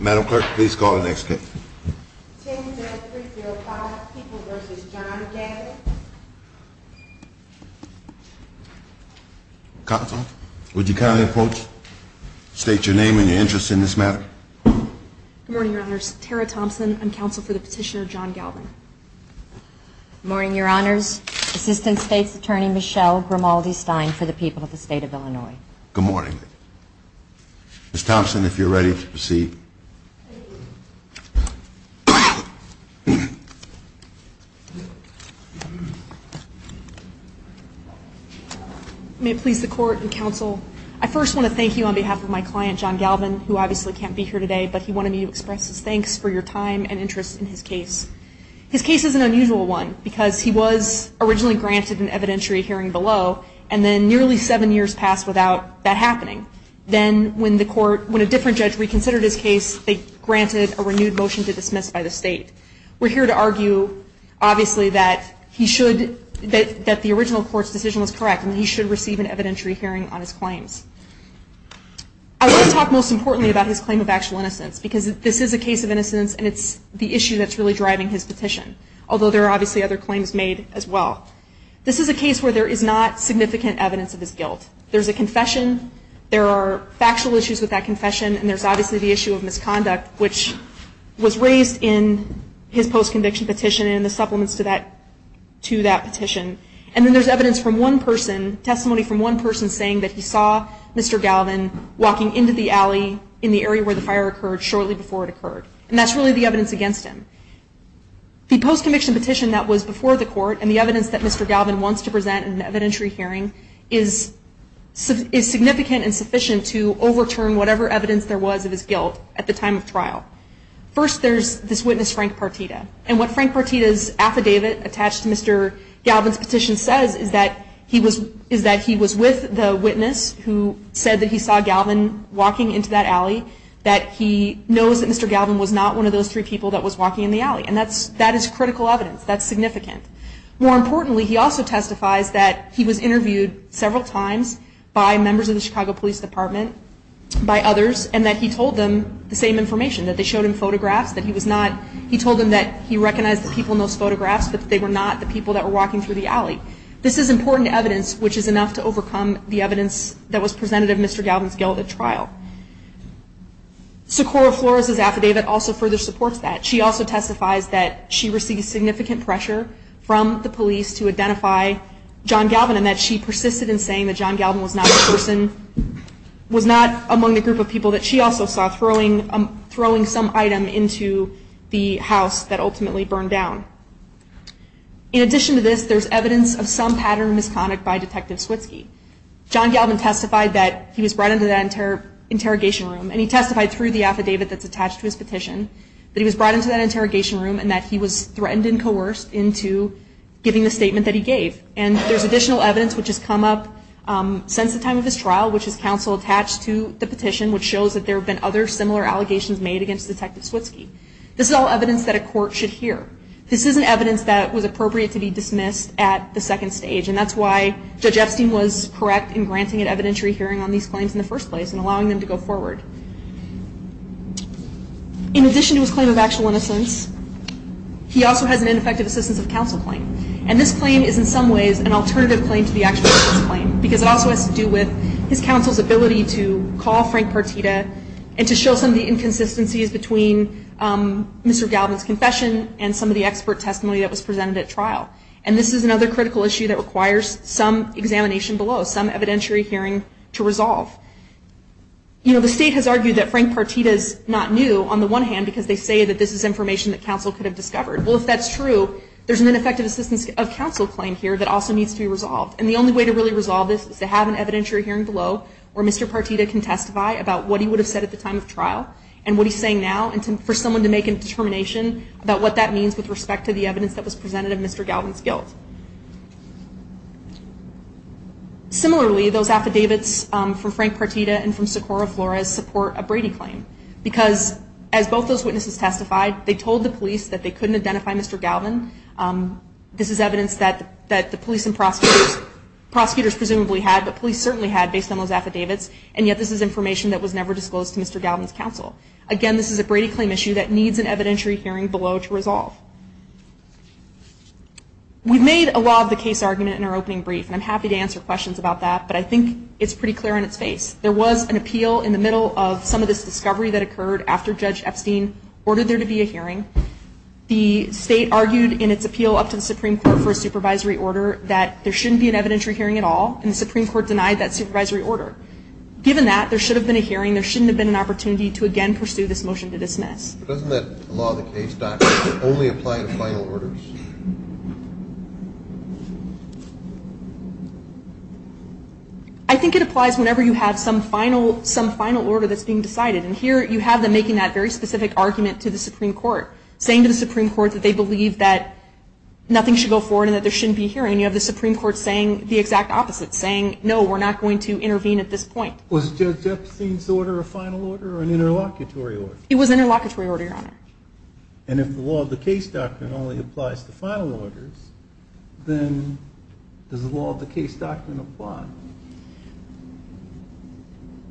Madam Clerk, please call the next case. 10Z305, People v. John Galvan. Counsel, would you kindly approach, state your name and your interest in this matter. Good morning, Your Honors. Tara Thompson. I'm counsel for the petitioner John Galvan. Good morning, Your Honors. Assistant State's Attorney Michelle Grimaldi-Stein for the People of the State of Illinois. Good morning. Ms. Thompson, if you're ready to proceed. May it please the Court and Counsel, I first want to thank you on behalf of my client John Galvan, who obviously can't be here today, but he wanted me to express his thanks for your time and interest in his case. His case is an unusual one because he was originally granted an evidentiary hearing below and then nearly seven years passed without that happening. Then when a different judge reconsidered his case, they granted a renewed motion to dismiss by the state. We're here to argue, obviously, that the original court's decision was correct and he should receive an evidentiary hearing on his claims. I want to talk most importantly about his claim of actual innocence because this is a case of innocence and it's the issue that's really driving his petition, although there are obviously other claims made as well. This is a case where there is not significant evidence of his guilt. There's a confession, there are factual issues with that confession, and there's obviously the issue of misconduct, which was raised in his post-conviction petition and the supplements to that petition. And then there's evidence from one person, testimony from one person, saying that he saw Mr. Galvan walking into the alley in the area where the fire occurred shortly before it occurred. And that's really the evidence against him. The post-conviction petition that was before the court and the evidence that Mr. Galvan wants to present in an evidentiary hearing is significant and sufficient to overturn whatever evidence there was of his guilt at the time of trial. First, there's this witness, Frank Partita, and what Frank Partita's affidavit attached to Mr. Galvan's petition says is that he was with the witness who said that he saw Galvan walking into that alley, that he knows that Mr. Galvan was not one of those three people that was walking in the alley. And that is critical evidence. That's significant. More importantly, he also testifies that he was interviewed several times by members of the Chicago Police Department, by others, and that he told them the same information, that they showed him photographs, that he told them that he recognized the people in those photographs, but that they were not the people that were walking through the alley. This is important evidence, which is enough to overcome the evidence that was presented in Mr. Galvan's guilt at trial. Socorro-Flores' affidavit also further supports that. She also testifies that she received significant pressure from the police to identify John Galvan and that she persisted in saying that John Galvan was not among the group of people that she also saw throwing some item into the house that ultimately burned down. In addition to this, there's evidence of some pattern of misconduct by Detective Switzke. John Galvan testified that he was brought into that interrogation room and he testified through the affidavit that's attached to his petition that he was brought into that interrogation room and that he was threatened and coerced into giving the statement that he gave. And there's additional evidence which has come up since the time of his trial, which is counsel attached to the petition, which shows that there have been other similar allegations made against Detective Switzke. This is all evidence that a court should hear. This is an evidence that was appropriate to be dismissed at the second stage, and that's why Judge Epstein was correct in granting an evidentiary hearing on these claims in the first place and allowing them to go forward. In addition to his claim of actual innocence, he also has an ineffective assistance of counsel claim. And this claim is in some ways an alternative claim to the actual offense claim because it also has to do with his counsel's ability to call Frank Partita and to show some of the inconsistencies between Mr. Galvan's confession and some of the expert testimony that was presented at trial. And this is another critical issue that requires some examination below, some evidentiary hearing to resolve. You know, the state has argued that Frank Partita is not new on the one hand because they say that this is information that counsel could have discovered. Well, if that's true, there's an ineffective assistance of counsel claim here that also needs to be resolved. And the only way to really resolve this is to have an evidentiary hearing below where Mr. Partita can testify about what he would have said at the time of trial and what he's saying now and for someone to make a determination about what that means with respect to the evidence that was presented of Mr. Galvan's guilt. Similarly, those affidavits from Frank Partita and from Socorro Flores support a Brady claim because as both those witnesses testified, they told the police that they couldn't identify Mr. Galvan. This is evidence that the police and prosecutors presumably had, but police certainly had based on those affidavits, and yet this is information that was never disclosed to Mr. Galvan's counsel. Again, this is a Brady claim issue that needs an evidentiary hearing below to resolve. We've made a lot of the case argument in our opening brief, and I'm happy to answer questions about that, but I think it's pretty clear on its face. There was an appeal in the middle of some of this discovery that occurred after Judge Epstein ordered there to be a hearing. The state argued in its appeal up to the Supreme Court for a supervisory order that there shouldn't be an evidentiary hearing at all, and the Supreme Court denied that supervisory order. Given that, there should have been a hearing. There shouldn't have been an opportunity to again pursue this motion to dismiss. Doesn't that law of the case not only apply to final orders? I think it applies whenever you have some final order that's being decided, and here you have them making that very specific argument to the Supreme Court, saying to the Supreme Court that they believe that nothing should go forward and that there shouldn't be a hearing. You have the Supreme Court saying the exact opposite, saying no, we're not going to intervene at this point. Was Judge Epstein's order a final order or an interlocutory order? It was an interlocutory order, Your Honor. And if the law of the case doctrine only applies to final orders, then does the law of the case doctrine apply?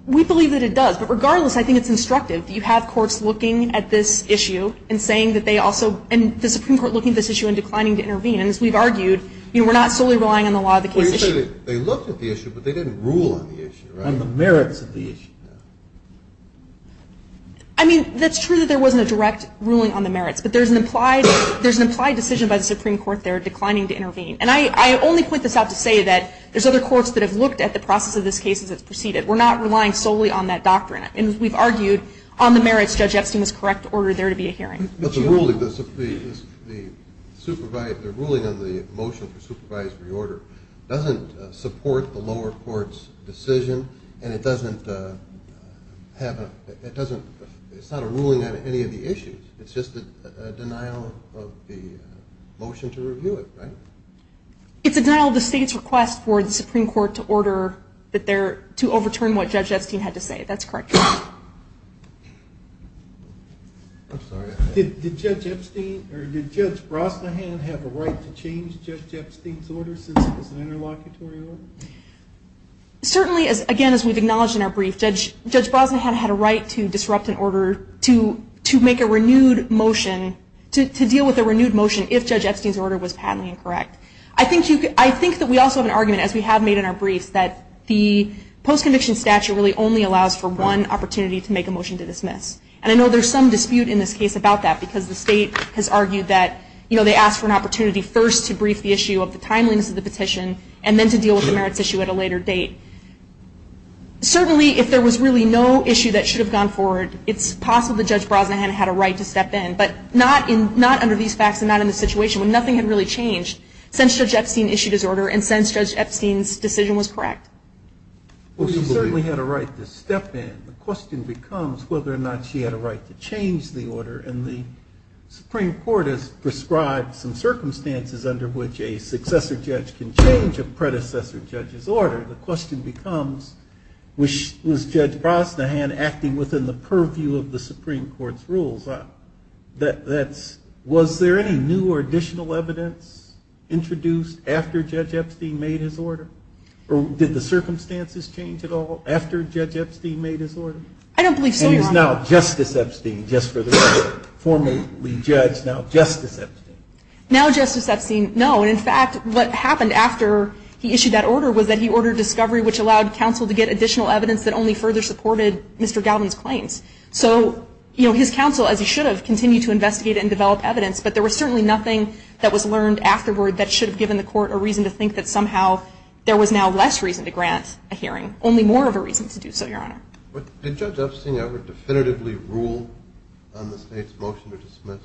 We believe that it does, but regardless, I think it's instructive. You have courts looking at this issue and saying that they also, and the Supreme Court looking at this issue and declining to intervene, and as we've argued, we're not solely relying on the law of the case issue. They looked at the issue, but they didn't rule on the issue, right? On the merits of the issue. I mean, that's true that there wasn't a direct ruling on the merits, but there's an implied decision by the Supreme Court there declining to intervene. And I only put this out to say that there's other courts that have looked at the process of this case as it's proceeded. We're not relying solely on that doctrine. And as we've argued, on the merits, Judge Epstein was correct to order there to be a hearing. But the ruling on the motion for supervisory order doesn't support the lower court's decision and it doesn't have a, it doesn't, it's not a ruling on any of the issues. It's just a denial of the motion to review it, right? It's a denial of the state's request for the Supreme Court to order that there, to overturn what Judge Epstein had to say. That's correct. Did Judge Epstein, or did Judge Brosnahan have a right to change Judge Epstein's order since it was an interlocutory order? Certainly, again, as we've acknowledged in our brief, Judge Brosnahan had a right to disrupt an order to make a renewed motion, to deal with a renewed motion if Judge Epstein's order was patently incorrect. I think that we also have an argument, as we have made in our briefs, that the post-conviction statute really only allows for one opportunity to make a motion to dismiss. And I know there's some dispute in this case about that because the state has argued that, you know, they asked for an opportunity first to brief the issue of the timeliness of the petition and then to deal with the merits issue at a later date. Certainly, if there was really no issue that should have gone forward, it's possible that Judge Brosnahan had a right to step in, but not under these facts and not in the situation when nothing had really changed since Judge Epstein issued his order and since Judge Epstein's decision was correct. Well, she certainly had a right to step in. The question becomes whether or not she had a right to change the order, and the Supreme Court has prescribed some circumstances under which a successor judge can change a predecessor judge's order. The question becomes, was Judge Brosnahan acting within the purview of the Supreme Court's rules? Was there any new or additional evidence introduced after Judge Epstein made his order? Did the circumstances change at all after Judge Epstein made his order? I don't believe so, Your Honor. And is now Justice Epstein just for the record, formerly judge, now Justice Epstein? Now Justice Epstein, no. And, in fact, what happened after he issued that order was that he ordered discovery, which allowed counsel to get additional evidence that only further supported Mr. Galvin's claims. So, you know, his counsel, as he should have, continued to investigate and develop evidence, but there was certainly nothing that was learned afterward that should have given the court a reason to think that somehow there was now less reason to grant a hearing, only more of a reason to do so, Your Honor. But did Judge Epstein ever definitively rule on the State's motion to dismiss?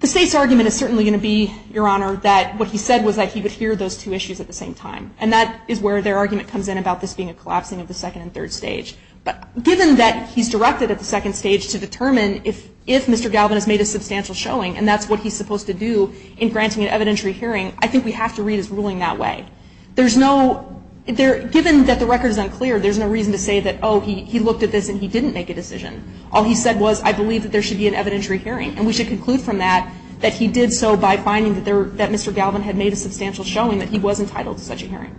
The State's argument is certainly going to be, Your Honor, that what he said was that he would hear those two issues at the same time. And that is where their argument comes in about this being a collapsing of the second and third stage. But given that he's directed at the second stage to determine if Mr. Galvin has made a substantial showing, and that's what he's supposed to do in granting an evidentiary hearing, I think we have to read his ruling that way. There's no – given that the record is unclear, there's no reason to say that, oh, he looked at this and he didn't make a decision. All he said was, I believe that there should be an evidentiary hearing, and we should conclude from that that he did so by finding that Mr. Galvin had made a substantial showing that he was entitled to such a hearing.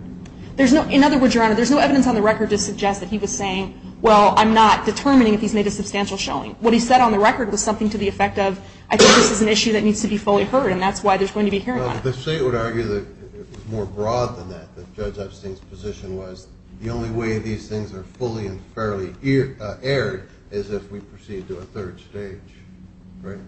In other words, Your Honor, there's no evidence on the record to suggest that he was saying, well, I'm not determining if he's made a substantial showing. What he said on the record was something to the effect of, I think this is an issue that needs to be fully heard, and that's why there's going to be a hearing on it. The State would argue that it was more broad than that, that Judge Epstein's position was the only way these things are fully and fairly aired is if we proceed to a third stage, right?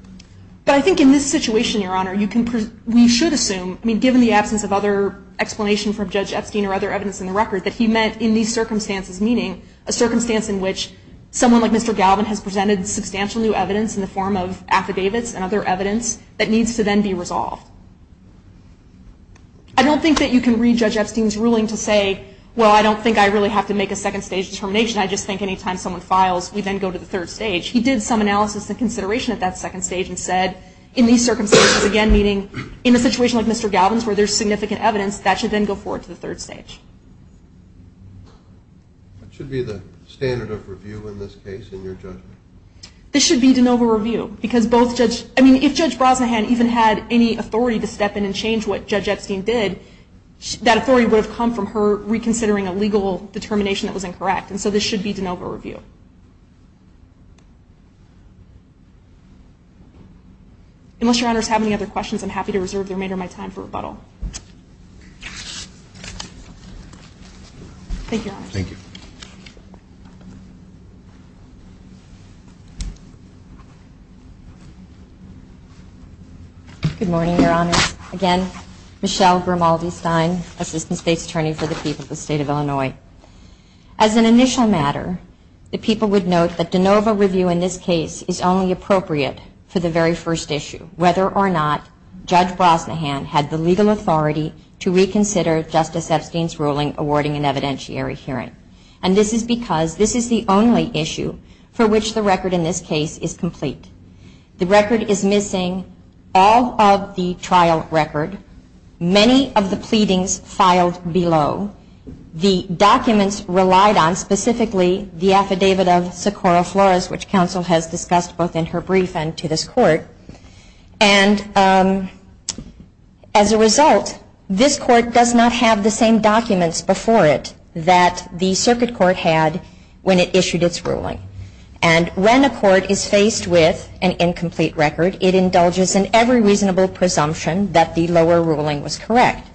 But I think in this situation, Your Honor, you can – we should assume, I mean, given the absence of other explanation from Judge Epstein or other evidence in the record, that he meant in these circumstances, meaning a circumstance in which someone like Mr. Galvin has presented substantial new evidence in the form of affidavits and other evidence that needs to then be resolved. I don't think that you can read Judge Epstein's ruling to say, well, I don't think I really have to make a second stage determination. I just think any time someone files, we then go to the third stage. He did some analysis and consideration at that second stage and said, in these circumstances again, meaning in a situation like Mr. Galvin's where there's significant evidence, that should then go forward to the third stage. That should be the standard of review in this case in your judgment. This should be de novo review because both Judge – I mean, if Judge Brosnahan even had any authority to step in and change what Judge Epstein did, that authority would have come from her reconsidering a legal determination that was incorrect, and so this should be de novo review. Unless Your Honors have any other questions, I'm happy to reserve the remainder of my time for rebuttal. Thank you, Your Honor. Thank you. Good morning, Your Honor. Again, Michelle Grimaldi-Stein, Assistant State's Attorney for the people of the State of Illinois. As an initial matter, the people would note that de novo review in this case is only appropriate for the very first issue, whether or not Judge Brosnahan had the legal authority to reconsider Justice Epstein's ruling awarding an evidentiary hearing. And this is because this is the only issue for which the rest of the State of Illinois trial record in this case is complete. The record is missing all of the trial record, many of the pleadings filed below, the documents relied on, specifically the affidavit of Socorro Flores, which counsel has discussed both in her brief and to this Court. And as a result, this Court does not have the same documents before it that the Circuit Court had when it issued its ruling. And when a court is faced with an incomplete record, it indulges in every reasonable presumption that the lower ruling was correct.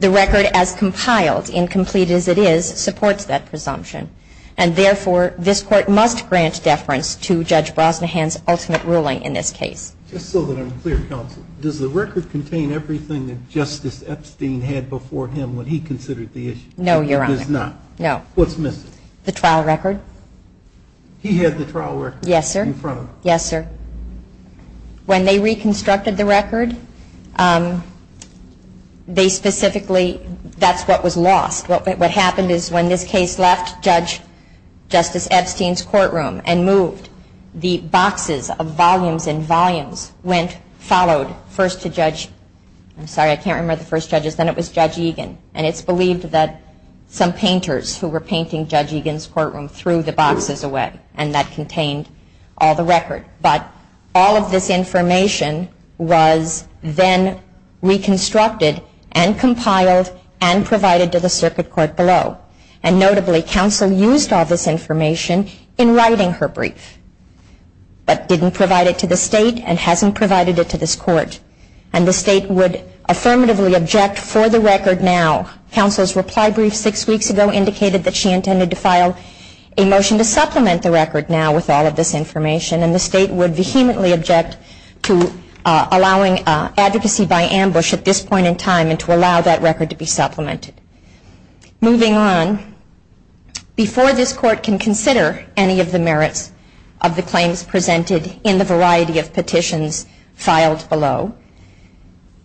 The record as compiled, incomplete as it is, supports that presumption. And therefore, this Court must grant deference to Judge Brosnahan's ultimate ruling in this case. Just so that I'm clear, Counsel, does the record contain everything that Justice Epstein had before him when he considered the issue? No, Your Honor. It does not? No. What's missing? The trial record. He had the trial record? Yes, sir. In front of him? Yes, sir. When they reconstructed the record, they specifically, that's what was lost. What happened is when this case left Judge Justice Epstein's courtroom and moved, the boxes of volumes and volumes went, followed, first to Judge, I'm sorry, I can't remember the first judges, then it was Judge Egan. And it's believed that some painters who were painting Judge Egan's courtroom threw the boxes away and that contained all the record. But all of this information was then reconstructed and compiled and provided to the circuit court below. And notably, Counsel used all this information in writing her brief, but didn't provide it to the State and hasn't provided it to this Court. And the State would affirmatively object for the record now. Counsel's reply brief six weeks ago indicated that she intended to file a motion to supplement the record now with all of this information. And the State would vehemently object to allowing advocacy by ambush at this point in time and to allow that record to be supplemented. Moving on, before this Court can consider any of the merits of the claims presented in the variety of petitions filed below,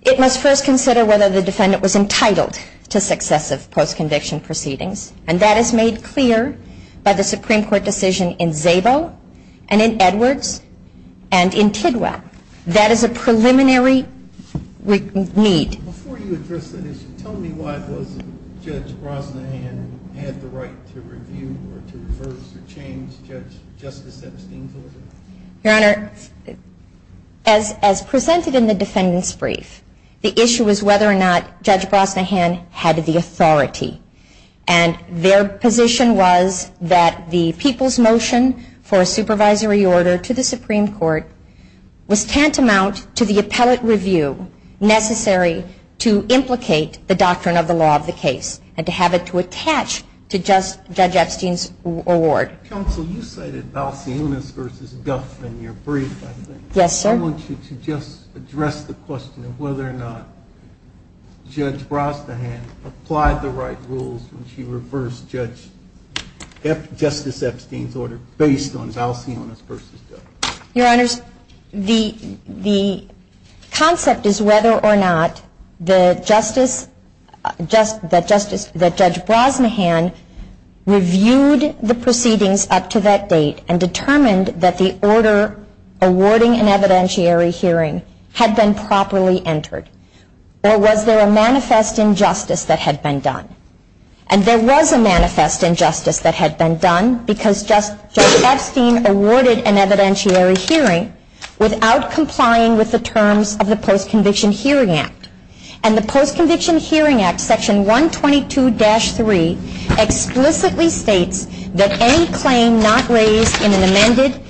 it must first consider whether the defendant was entitled to successive post-conviction proceedings. And that is made clear by the Supreme Court decision in Szabo and in Edwards and in Tidwell. That is a preliminary need. Before you address that issue, tell me why Judge Brosnahan had the right to review or to reverse or change Justice Epstein's order? Your Honor, as presented in the defendant's brief, the issue was whether or not Judge Brosnahan had the authority. And their position was that the people's motion for a supervisory order to the Supreme Court was tantamount to the appellate review necessary to implicate the doctrine of the law of the case and to have it to attach to Judge Epstein's award. Counsel, you cited Balcionis v. Duff in your brief, I think. Yes, sir. I want you to just address the question of whether or not Judge Brosnahan applied the right rules when she reversed Justice Epstein's order based on Balcionis v. Duff. Your Honors, the concept is whether or not the Justice, that Judge Brosnahan reviewed the proceedings up to that date and determined that the order awarding an evidentiary hearing had been properly entered. Or was there a manifest injustice that had been done? And there was a manifest injustice that had been done because Judge Epstein awarded an evidentiary hearing without complying with the terms of the Post-Conviction Hearing Act. And the Post-Conviction Hearing Act, Section 122-3, explicitly states that any claim not raised in an amended,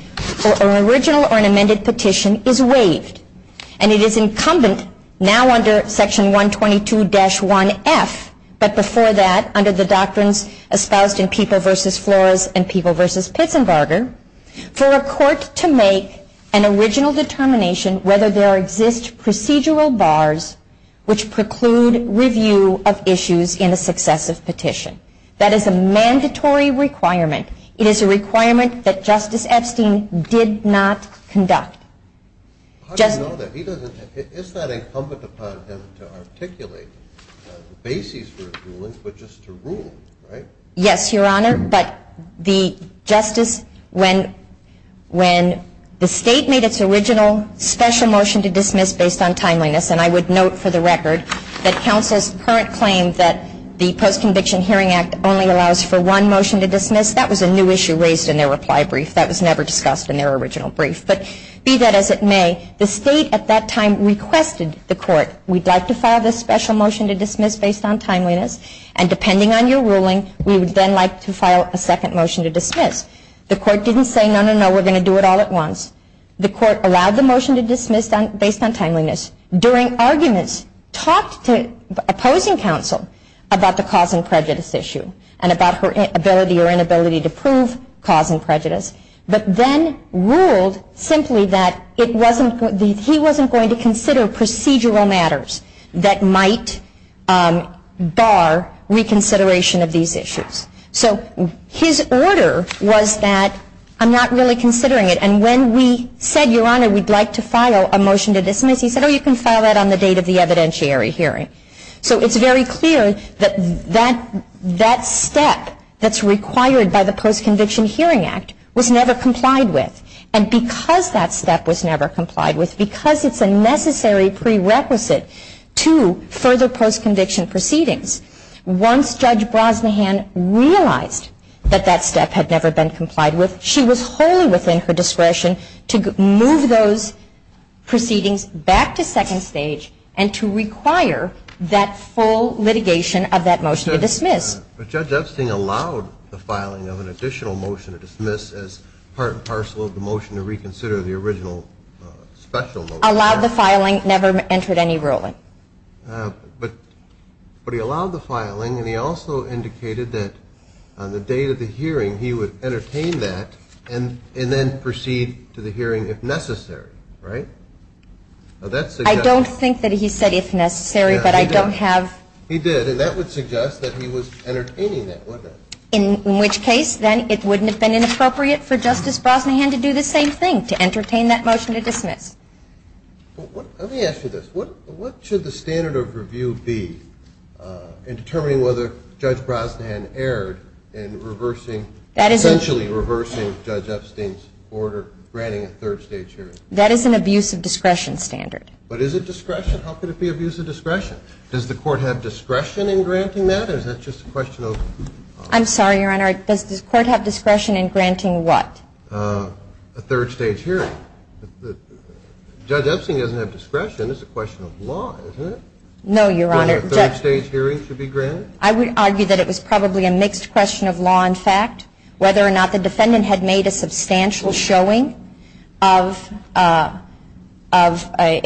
or an original or an amended petition is waived. And it is incumbent now under Section 122-1F, but before that under the doctrines espoused in People v. Flores and People v. Pitsenbarger, for a court to make an original determination whether there exist procedural bars which preclude review of issues in a successive petition. That is a mandatory requirement. It is a requirement that Justice Epstein did not conduct. How do you know that? It's not incumbent upon him to articulate the basis for his ruling, but just to rule, right? Yes, Your Honor. But the Justice, when the State made its original special motion to dismiss based on timeliness, and I would note for the record that counsel's current claim that the Post-Conviction Hearing Act only allows for one motion to dismiss, that was a new issue raised in their reply brief. That was never discussed in their original brief. But be that as it may, the State at that time requested the court, we'd like to file this special motion to dismiss based on timeliness, and depending on your ruling, we would then like to file a second motion to dismiss. The court didn't say, no, no, no, we're going to do it all at once. The court allowed the motion to dismiss based on timeliness, during arguments talked to opposing counsel about the cause and prejudice issue, and about her ability or inability to prove cause and prejudice, but then ruled simply that he wasn't going to consider procedural matters that might bar reconsideration of these issues. So his order was that I'm not really considering it, and when we said, Your Honor, we'd like to file a motion to dismiss, he said, oh, you can file that on the date of the evidentiary hearing. So it's very clear that that step that's required by the Post-Conviction Hearing Act was never complied with. And because that step was never complied with, because it's a necessary prerequisite to further post-conviction proceedings, once Judge Brosnahan realized that that step had never been complied with, she was wholly within her discretion to move those proceedings back to second stage and to require that full litigation of that motion to dismiss. But Judge Epstein allowed the filing of an additional motion to dismiss as part and parcel of the motion to reconsider the original special motion. Allowed the filing, never entered any ruling. But he allowed the filing, and he also indicated that on the date of the hearing, he would entertain that and then proceed to the hearing if necessary, right? I don't think that he said if necessary, but I don't have. He did, and that would suggest that he was entertaining that, wouldn't it? In which case, then, it wouldn't have been inappropriate for Justice Brosnahan to do the same thing, to entertain that motion to dismiss. Let me ask you this. What should the standard of review be in determining whether Judge Brosnahan erred in reversing, essentially reversing Judge Epstein's order granting a third stage hearing? That is an abuse of discretion standard. But is it discretion? How could it be abuse of discretion? Does the Court have discretion in granting that, or is that just a question of? I'm sorry, Your Honor. Does the Court have discretion in granting what? A third stage hearing. Judge Epstein doesn't have discretion. It's a question of law, isn't it? No, Your Honor. For a third stage hearing to be granted? I would argue that it was probably a mixed question of law and fact, whether or not the defendant had made a substantial showing of a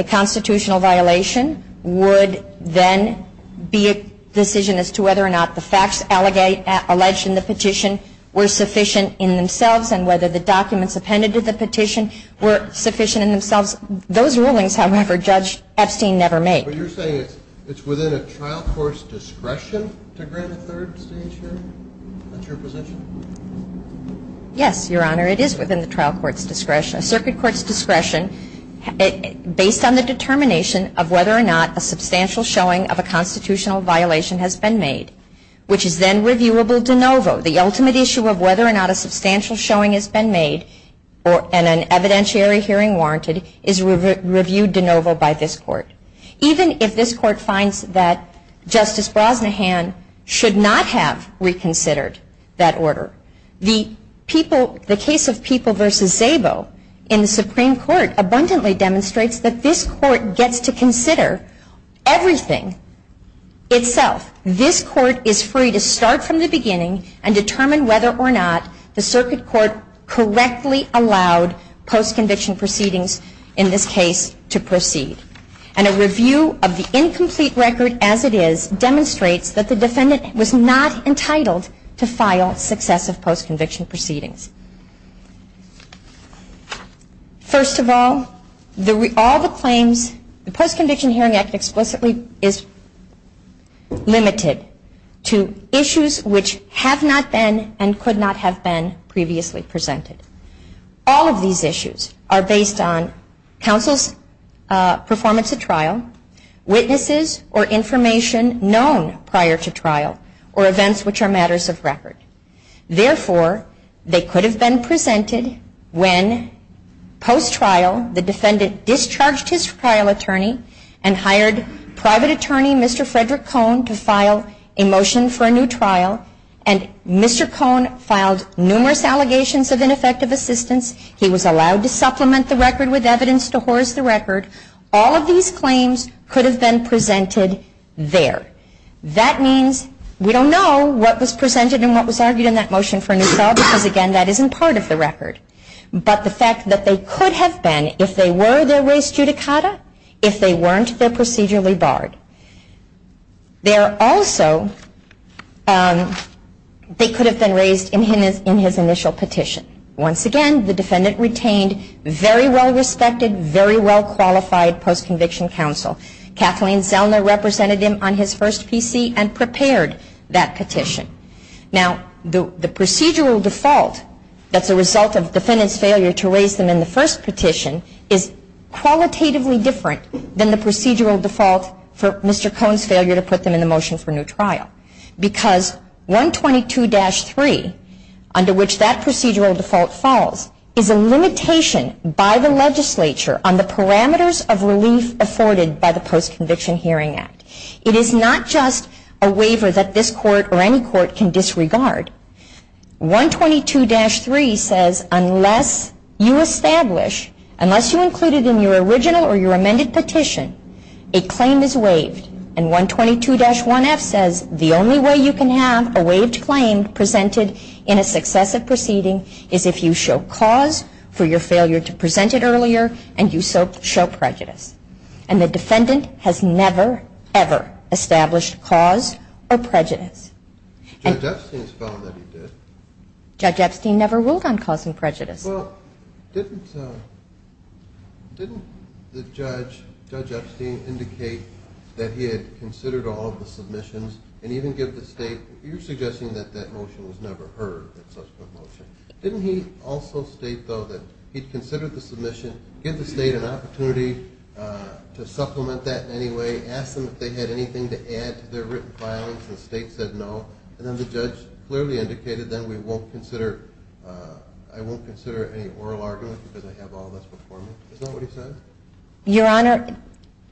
constitutional violation would then be a decision as to whether or not the facts alleged in the petition were sufficient in themselves and whether the documents appended to the petition were sufficient in themselves. Those rulings, however, Judge Epstein never made. But you're saying it's within a trial court's discretion to grant a third stage hearing? Is that your position? Yes, Your Honor. It is within the trial court's discretion. A circuit court's discretion based on the determination of whether or not a substantial showing of a constitutional violation has been made, which is then reviewable de novo. The ultimate issue of whether or not a substantial showing has been made and an evidentiary hearing warranted is reviewed de novo by this Court. Even if this Court finds that Justice Brosnahan should not have reconsidered that order, the case of People v. Szabo in the Supreme Court abundantly demonstrates that this Court gets to consider everything itself. This Court is free to start from the beginning and determine whether or not the circuit court correctly allowed post-conviction proceedings in this case to proceed. And a review of the incomplete record as it is demonstrates that the defendant was not entitled to file successive post-conviction proceedings. First of all, all the claims, the Post-Conviction Hearing Act explicitly is limited to issues which have not been and could not have been previously presented. All of these issues are based on counsel's performance at trial, witnesses or information known prior to trial, or events which are matters of record. Therefore, they could have been presented when post-trial the defendant discharged his trial attorney and hired private attorney Mr. Frederick Cohn to file a motion for a new trial and Mr. Cohn filed numerous allegations of ineffective assistance. He was allowed to supplement the record with evidence to hoarse the record. All of these claims could have been presented there. That means we don't know what was presented and what was argued in that motion for a new trial because, again, that isn't part of the record. But the fact that they could have been if they were their res judicata, if they weren't, they're procedurally barred. There also, they could have been raised in his initial petition. Once again, the defendant retained very well-respected, very well-qualified post-conviction counsel. Kathleen Zellner represented him on his first PC and prepared that petition. Now, the procedural default that's a result of defendant's failure to raise them in the first petition is qualitatively different than the procedural default for Mr. Cohn's failure to put them in the motion for a new trial because 122-3, under which that procedural default falls, is a limitation by the legislature on the parameters of relief afforded by the Post-Conviction Hearing Act. It is not just a waiver that this court or any court can disregard. 122-3 says unless you establish, unless you include it in your original or your amended petition, a claim is waived. And 122-1F says the only way you can have a waived claim presented in a successive proceeding is if you show cause for your failure to present it earlier and you show prejudice. And the defendant has never, ever established cause or prejudice. Judge Epstein has found that he did. Judge Epstein never ruled on cause and prejudice. Well, didn't the judge, Judge Epstein, indicate that he had considered all of the submissions and even give the state, you're suggesting that that motion was never heard, that subsequent motion. Didn't he also state, though, that he'd considered the submission, give the state an opportunity to supplement that in any way, ask them if they had anything to add to their written filings, and the state said no. And then the judge clearly indicated that we won't consider, I won't consider any oral argument because I have all this before me. Is that what he said? Your Honor,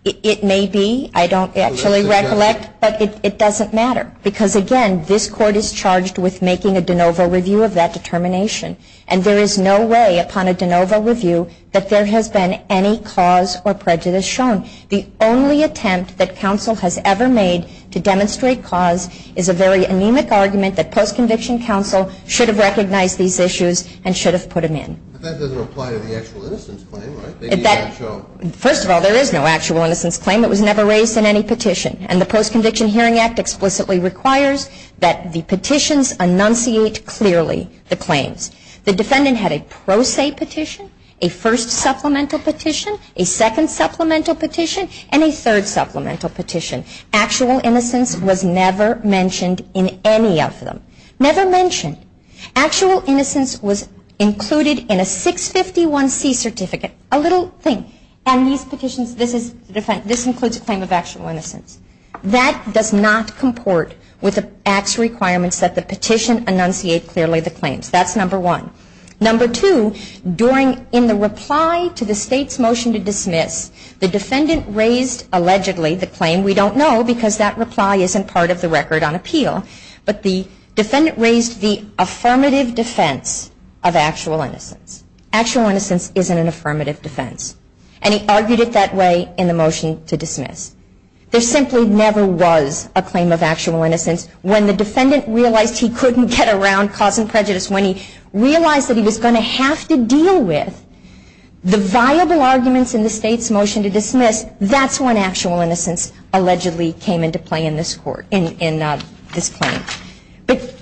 it may be. I don't actually recollect, but it doesn't matter. Because, again, this court is charged with making a de novo review of that determination. And there is no way upon a de novo review that there has been any cause or prejudice shown. The only attempt that counsel has ever made to demonstrate cause is a very anemic argument that post-conviction counsel should have recognized these issues and should have put them in. But that doesn't apply to the actual innocence claim, right? First of all, there is no actual innocence claim. It was never raised in any petition. And the Post-Conviction Hearing Act explicitly requires that the petitions enunciate clearly the claims. The defendant had a pro se petition, a first supplemental petition, a second supplemental petition, and a third supplemental petition. Actual innocence was never mentioned in any of them. Never mentioned. Actual innocence was included in a 651C certificate. A little thing. And these petitions, this includes a claim of actual innocence. That does not comport with the Act's requirements that the petition enunciate clearly the claims. That's number one. Number two, during, in the reply to the State's motion to dismiss, the defendant raised allegedly the claim. We don't know because that reply isn't part of the record on appeal. But the defendant raised the affirmative defense of actual innocence. Actual innocence isn't an affirmative defense. And he argued it that way in the motion to dismiss. There simply never was a claim of actual innocence. When the defendant realized he couldn't get around cause and prejudice, when he realized that he was going to have to deal with the viable arguments in the State's motion to dismiss, that's when actual innocence allegedly came into play in this court, in this claim. But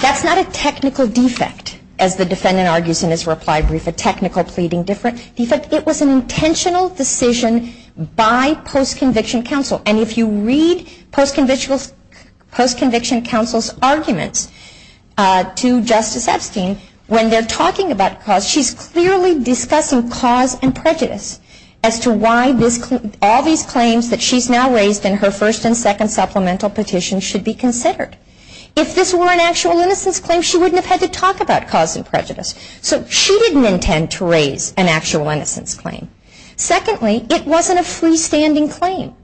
that's not a technical defect, as the defendant argues in his reply brief, a technical pleading defect. It was an intentional decision by post-conviction counsel. And if you read post-conviction counsel's arguments to Justice Epstein, when they're talking about cause, she's clearly discussing cause and prejudice as to why all these claims that she's now raised in her first and second supplemental petition should be considered. If this were an actual innocence claim, she wouldn't have had to talk about cause and prejudice. So she didn't intend to raise an actual innocence claim. Secondly, it wasn't a freestanding claim.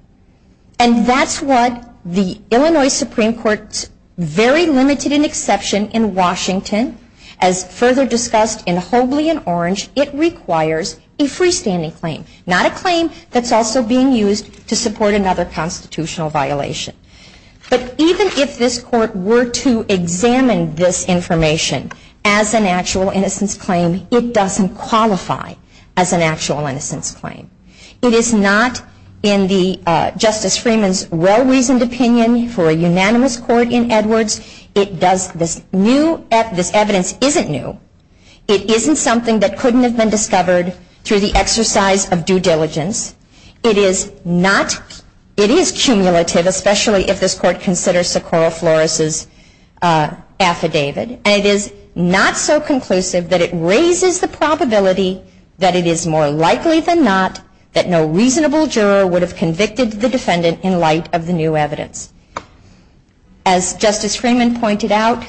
And that's what the Illinois Supreme Court's very limited in exception in Washington, as further discussed in Hobley and Orange, it requires a freestanding claim, not a claim that's also being used to support another constitutional violation. But even if this court were to examine this information as an actual innocence claim, it doesn't qualify as an actual innocence claim. It is not in Justice Freeman's well-reasoned opinion for a unanimous court in Edwards. This evidence isn't new. It isn't something that couldn't have been discovered through the exercise of due diligence. It is cumulative, especially if this court considers Socorro Flores's affidavit. And it is not so conclusive that it raises the probability that it is more likely than not that no reasonable juror would have convicted the defendant in light of the new evidence. As Justice Freeman pointed out,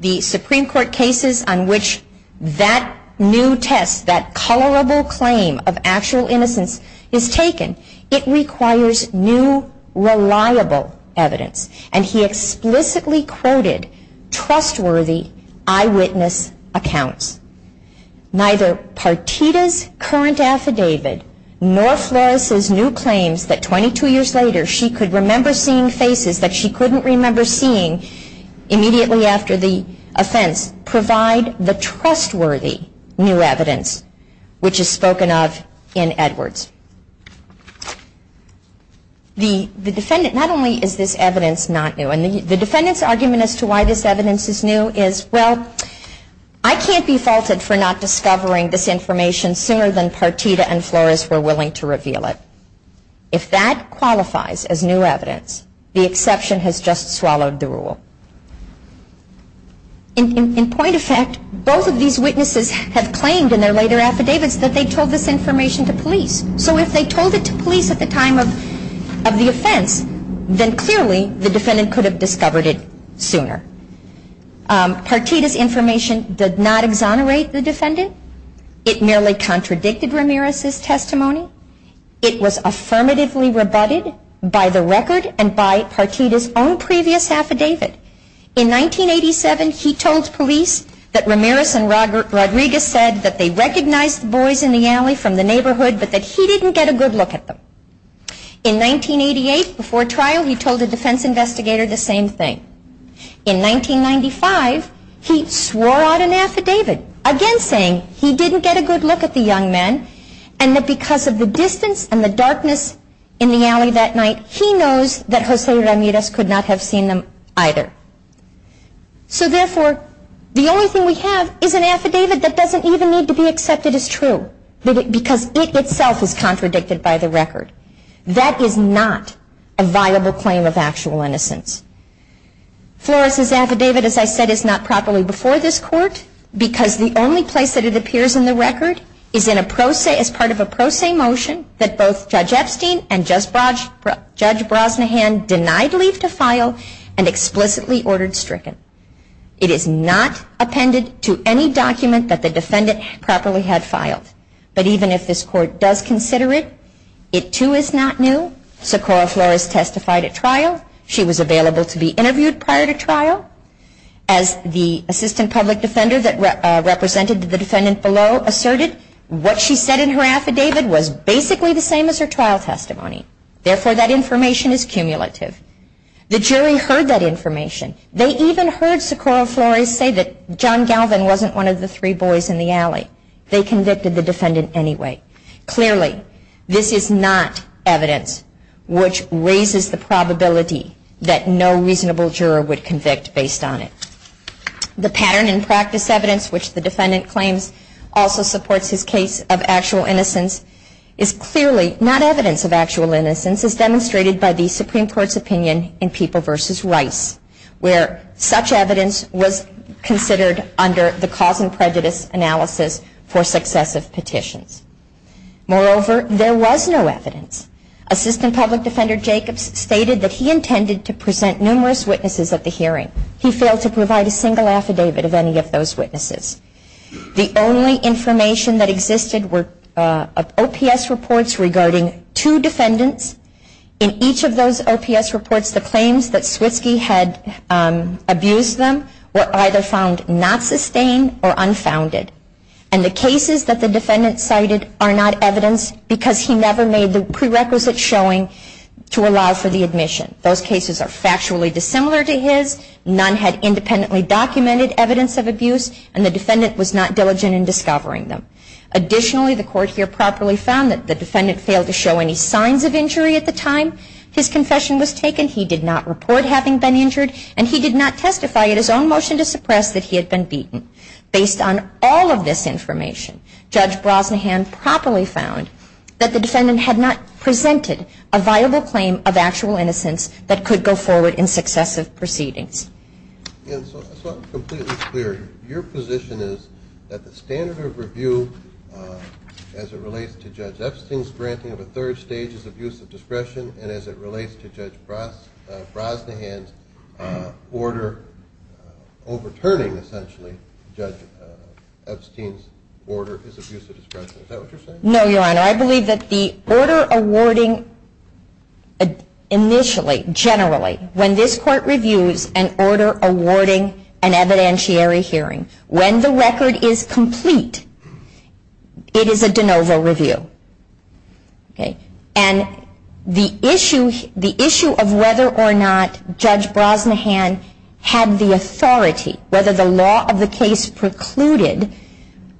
the Supreme Court cases on which that new test, that colorable claim of actual innocence is taken, it requires new, reliable evidence. And he explicitly quoted trustworthy eyewitness accounts. Neither Partita's current affidavit nor Flores's new claims that 22 years later she could remember seeing faces that she couldn't remember seeing immediately after the offense provide the trustworthy new evidence which is spoken of in Edwards. The defendant, not only is this evidence not new, and the defendant's argument as to why this evidence is new is, well, I can't be faulted for not discovering this information sooner than Partita and Flores were willing to reveal it. If that qualifies as new evidence, the exception has just swallowed the rule. In point of fact, both of these witnesses have claimed in their later affidavits that they told this information to police. So if they told it to police at the time of the offense, then clearly the defendant could have discovered it sooner. Partita's information did not exonerate the defendant. It merely contradicted Ramirez's testimony. It was affirmatively rebutted by the record and by Partita's own previous affidavit. In 1987, he told police that Ramirez and Rodriguez said that they recognized the boys in the alley from the neighborhood, but that he didn't get a good look at them. In 1988, before trial, he told a defense investigator the same thing. In 1995, he swore out an affidavit, again saying he didn't get a good look at the young men, and that because of the distance and the darkness in the alley that night, he knows that Jose Ramirez could not have seen them either. So therefore, the only thing we have is an affidavit that doesn't even need to be accepted as true, because it itself is contradicted by the record. That is not a viable claim of actual innocence. Flores' affidavit, as I said, is not properly before this Court, because the only place that it appears in the record is as part of a pro se motion that both Judge Epstein and Judge Brosnahan denied leave to file and explicitly ordered stricken. It is not appended to any document that the defendant properly had filed. But even if this Court does consider it, it too is not new. So Cora Flores testified at trial. She was available to be interviewed prior to trial. As the assistant public defender that represented the defendant below asserted, what she said in her affidavit was basically the same as her trial testimony. Therefore, that information is cumulative. The jury heard that information. They even heard Cora Flores say that John Galvin wasn't one of the three boys in the alley. They convicted the defendant anyway. Clearly, this is not evidence which raises the probability that no reasonable juror would convict based on it. The pattern and practice evidence, which the defendant claims also supports his case of actual innocence, is clearly not evidence of actual innocence as demonstrated by the Supreme Court's opinion in People v. Rice, where such evidence was considered under the cause and prejudice analysis for successive petitions. Moreover, there was no evidence. Assistant public defender Jacobs stated that he intended to present numerous witnesses at the hearing. He failed to provide a single affidavit of any of those witnesses. The only information that existed were OPS reports regarding two defendants. In each of those OPS reports, the claims that Switzke had abused them were either found not sustained or unfounded. And the cases that the defendant cited are not evidence because he never made the prerequisite showing to allow for the admission. Those cases are factually dissimilar to his. None had independently documented evidence of abuse, and the defendant was not diligent in discovering them. Additionally, the court here properly found that the defendant failed to show any signs of injury at the time his confession was taken. He did not report having been injured, and he did not testify at his own motion to suppress that he had been beaten. Based on all of this information, Judge Brosnahan properly found that the defendant had not presented a viable claim of actual innocence that could go forward in successive proceedings. And so I'm completely clear. Your position is that the standard of review as it relates to Judge Epstein's granting of a third stage is abusive discretion, and as it relates to Judge Brosnahan's order overturning, essentially, Judge Epstein's order, is abusive discretion. Is that what you're saying? No, Your Honor. I believe that the order awarding initially, generally, when this court reviews an order awarding an evidentiary hearing, when the record is complete, it is a de novo review. And the issue of whether or not Judge Brosnahan had the authority, whether the law of the case precluded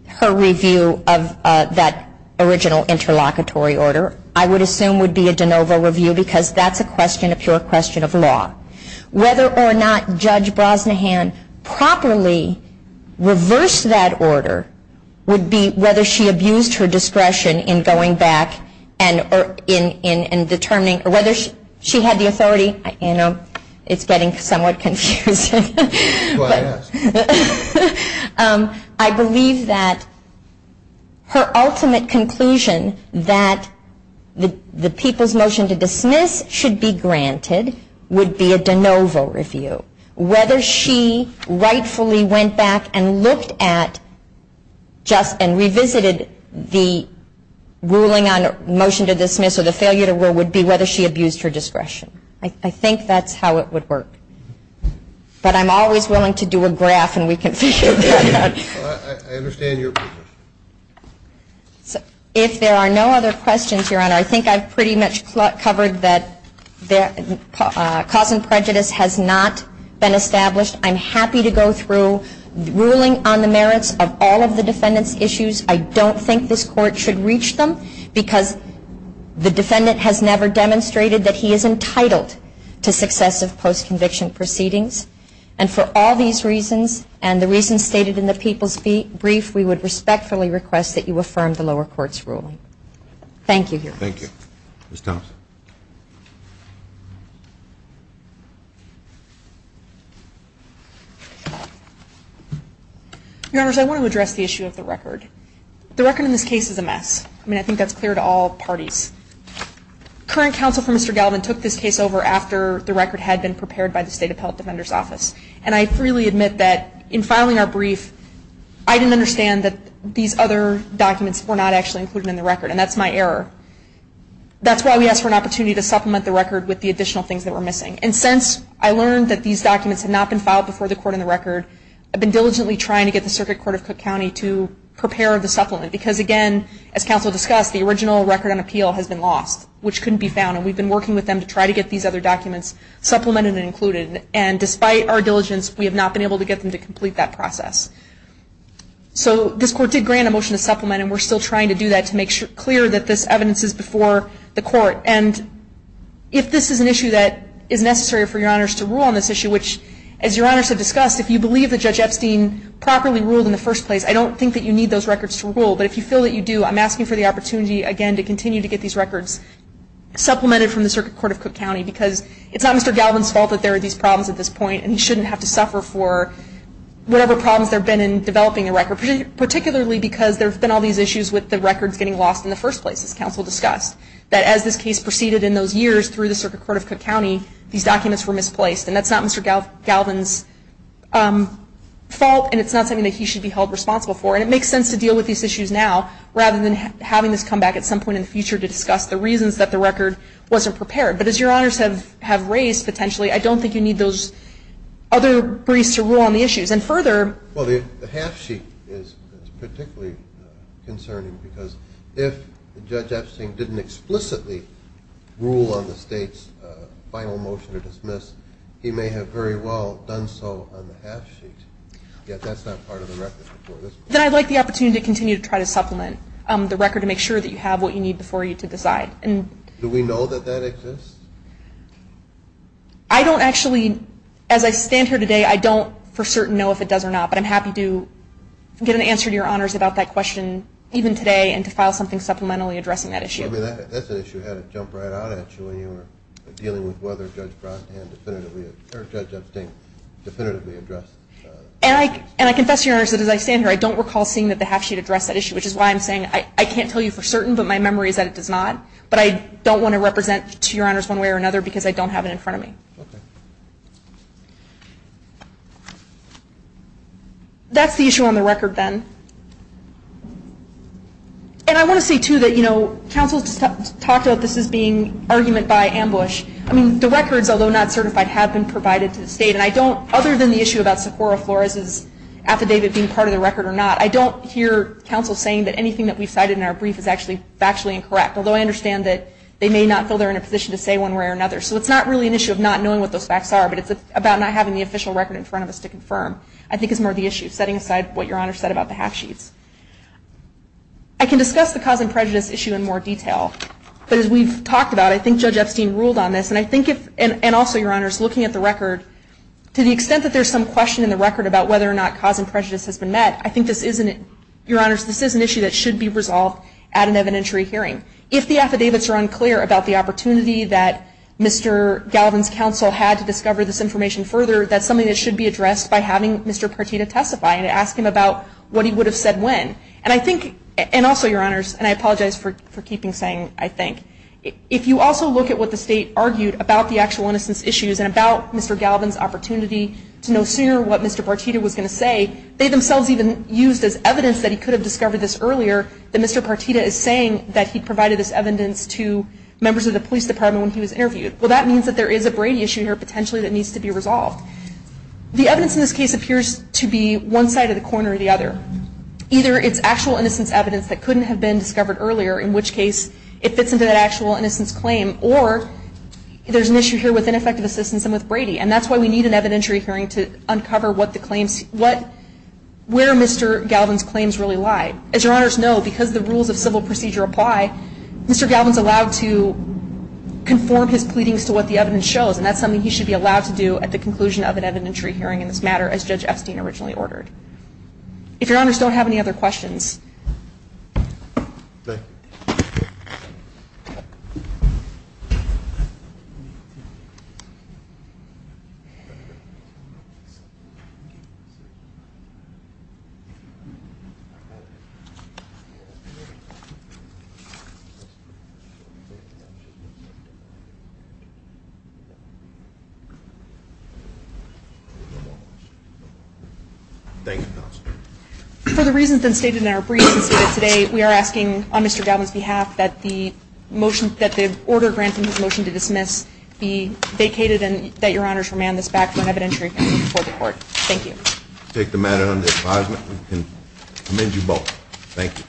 her review of that original interlocutory order, I would assume would be a de novo review because that's a question, a pure question of law. Whether or not Judge Brosnahan properly reversed that order would be whether she abused her discretion in going back It's getting somewhat confusing. I believe that her ultimate conclusion that the people's motion to dismiss should be granted would be a de novo review. Whether she rightfully went back and looked at and revisited the ruling on motion to dismiss or the failure to review would be whether she abused her discretion. I think that's how it would work. But I'm always willing to do a graph and we can figure that out. I understand your position. If there are no other questions, Your Honor, I think I've pretty much covered that cause and prejudice has not been established. I'm happy to go through ruling on the merits of all of the defendant's issues. I don't think this Court should reach them because the defendant has never demonstrated that he is entitled to successive post-conviction proceedings. And for all these reasons and the reasons stated in the people's brief, we would respectfully request that you affirm the lower court's ruling. Thank you, Your Honor. Thank you. Ms. Thomas. Your Honors, I want to address the issue of the record. The record in this case is a mess. I mean, I think that's clear to all parties. Current counsel for Mr. Galvin took this case over after the record had been prepared by the State Appellate Defender's Office. And I freely admit that in filing our brief, I didn't understand that these other documents were not actually included in the record. And that's my error. That's why we asked for an opportunity to supplement the record with the additional things that were missing. And since I learned that these documents had not been filed before the court in the record, I've been diligently trying to get the Circuit Court of Cook County to prepare the supplement. Because, again, as counsel discussed, the original record on appeal has been lost, which couldn't be found. And we've been working with them to try to get these other documents supplemented and included. And despite our diligence, we have not been able to get them to complete that process. So this court did grant a motion to supplement, and we're still trying to do that to make clear that this evidence is before the court. And if this is an issue that is necessary for Your Honors to rule on this issue, which, as Your Honors have discussed, if you believe that Judge Epstein properly ruled in the first place, I don't think that you need those records to rule. But if you feel that you do, I'm asking for the opportunity, again, to continue to get these records supplemented from the Circuit Court of Cook County. Because it's not Mr. Galvin's fault that there are these problems at this point, and he shouldn't have to suffer for whatever problems there have been in developing the record, particularly because there have been all these issues with the records getting lost in the first place, as counsel discussed, that as this case proceeded in those years through the Circuit Court of Cook County, these documents were misplaced. And that's not Mr. Galvin's fault, and it's not something that he should be held responsible for. And it makes sense to deal with these issues now rather than having this come back at some point in the future to discuss the reasons that the record wasn't prepared. But as Your Honors have raised, potentially, I don't think you need those other briefs to rule on the issues. And further ---- Well, the half sheet is particularly concerning, because if Judge Epstein didn't explicitly rule on the State's final motion to dismiss, he may have very well done so on the half sheet. Yet that's not part of the record before this point. Then I'd like the opportunity to continue to try to supplement the record to make sure that you have what you need before you to decide. Do we know that that exists? I don't actually, as I stand here today, I don't for certain know if it does or not. But I'm happy to get an answer to Your Honors about that question even today and to file something supplementally addressing that issue. That's an issue you had to jump right out at you when you were dealing with whether Judge Epstein definitively addressed the issue. And I confess, Your Honors, that as I stand here, I don't recall seeing that the half sheet addressed that issue, which is why I'm saying I can't tell you for certain, but my memory is that it does not. But I don't want to represent to Your Honors one way or another because I don't have it in front of me. Okay. That's the issue on the record then. And I want to say, too, that, you know, counsel talked about this as being argument by ambush. I mean, the records, although not certified, have been provided to the State. And I don't, other than the issue about Sephora Flores' affidavit being part of the record or not, I don't hear counsel saying that anything that we've cited in our brief is actually factually incorrect, although I understand that they may not feel they're in a position to say one way or another. So it's not really an issue of not knowing what those facts are, but it's about not having the official record in front of us to confirm, I think, is more the issue, setting aside what Your Honors said about the half sheets. I can discuss the cause and prejudice issue in more detail. But as we've talked about, I think Judge Epstein ruled on this. And I think if, and also, Your Honors, looking at the record, to the extent that there's some question in the record about whether or not cause and prejudice has been met, I think this isn't, Your Honors, this is an issue that should be resolved at an evidentiary hearing. If the affidavits are unclear about the opportunity that Mr. Galvin's counsel had to discover this information further, that's something that should be addressed by having Mr. Partita testify and ask him about what he would have said when. And I think, and also, Your Honors, and I apologize for keeping saying I think, if you also look at what the State argued about the actual innocence issues and about Mr. Galvin's opportunity to know sooner what Mr. Partita was going to say, they themselves even used as evidence that he could have discovered this earlier, that Mr. Partita is saying that he provided this evidence to members of the police department when he was interviewed. Well, that means that there is a Brady issue here potentially that needs to be resolved. The evidence in this case appears to be one side or the corner or the other. Either it's actual innocence evidence that couldn't have been discovered earlier, in which case it fits into that actual innocence claim, or there's an issue here with ineffective assistance and with Brady. And that's why we need an evidentiary hearing to uncover what the claims, where Mr. Galvin's claims really lie. As Your Honors know, because the rules of civil procedure apply, Mr. Galvin's allowed to conform his pleadings to what the evidence shows, and that's something he should be allowed to do at the conclusion of an evidentiary hearing in this matter, as Judge Epstein originally ordered. If Your Honors don't have any other questions. Thank you. For the reasons that are stated in our briefs and stated today, we are asking on Mr. Galvin's behalf that the order granting his motion to dismiss be vacated and that Your Honors remand this back for an evidentiary hearing before the court. Thank you. I take the matter under advisement and commend you both. Thank you.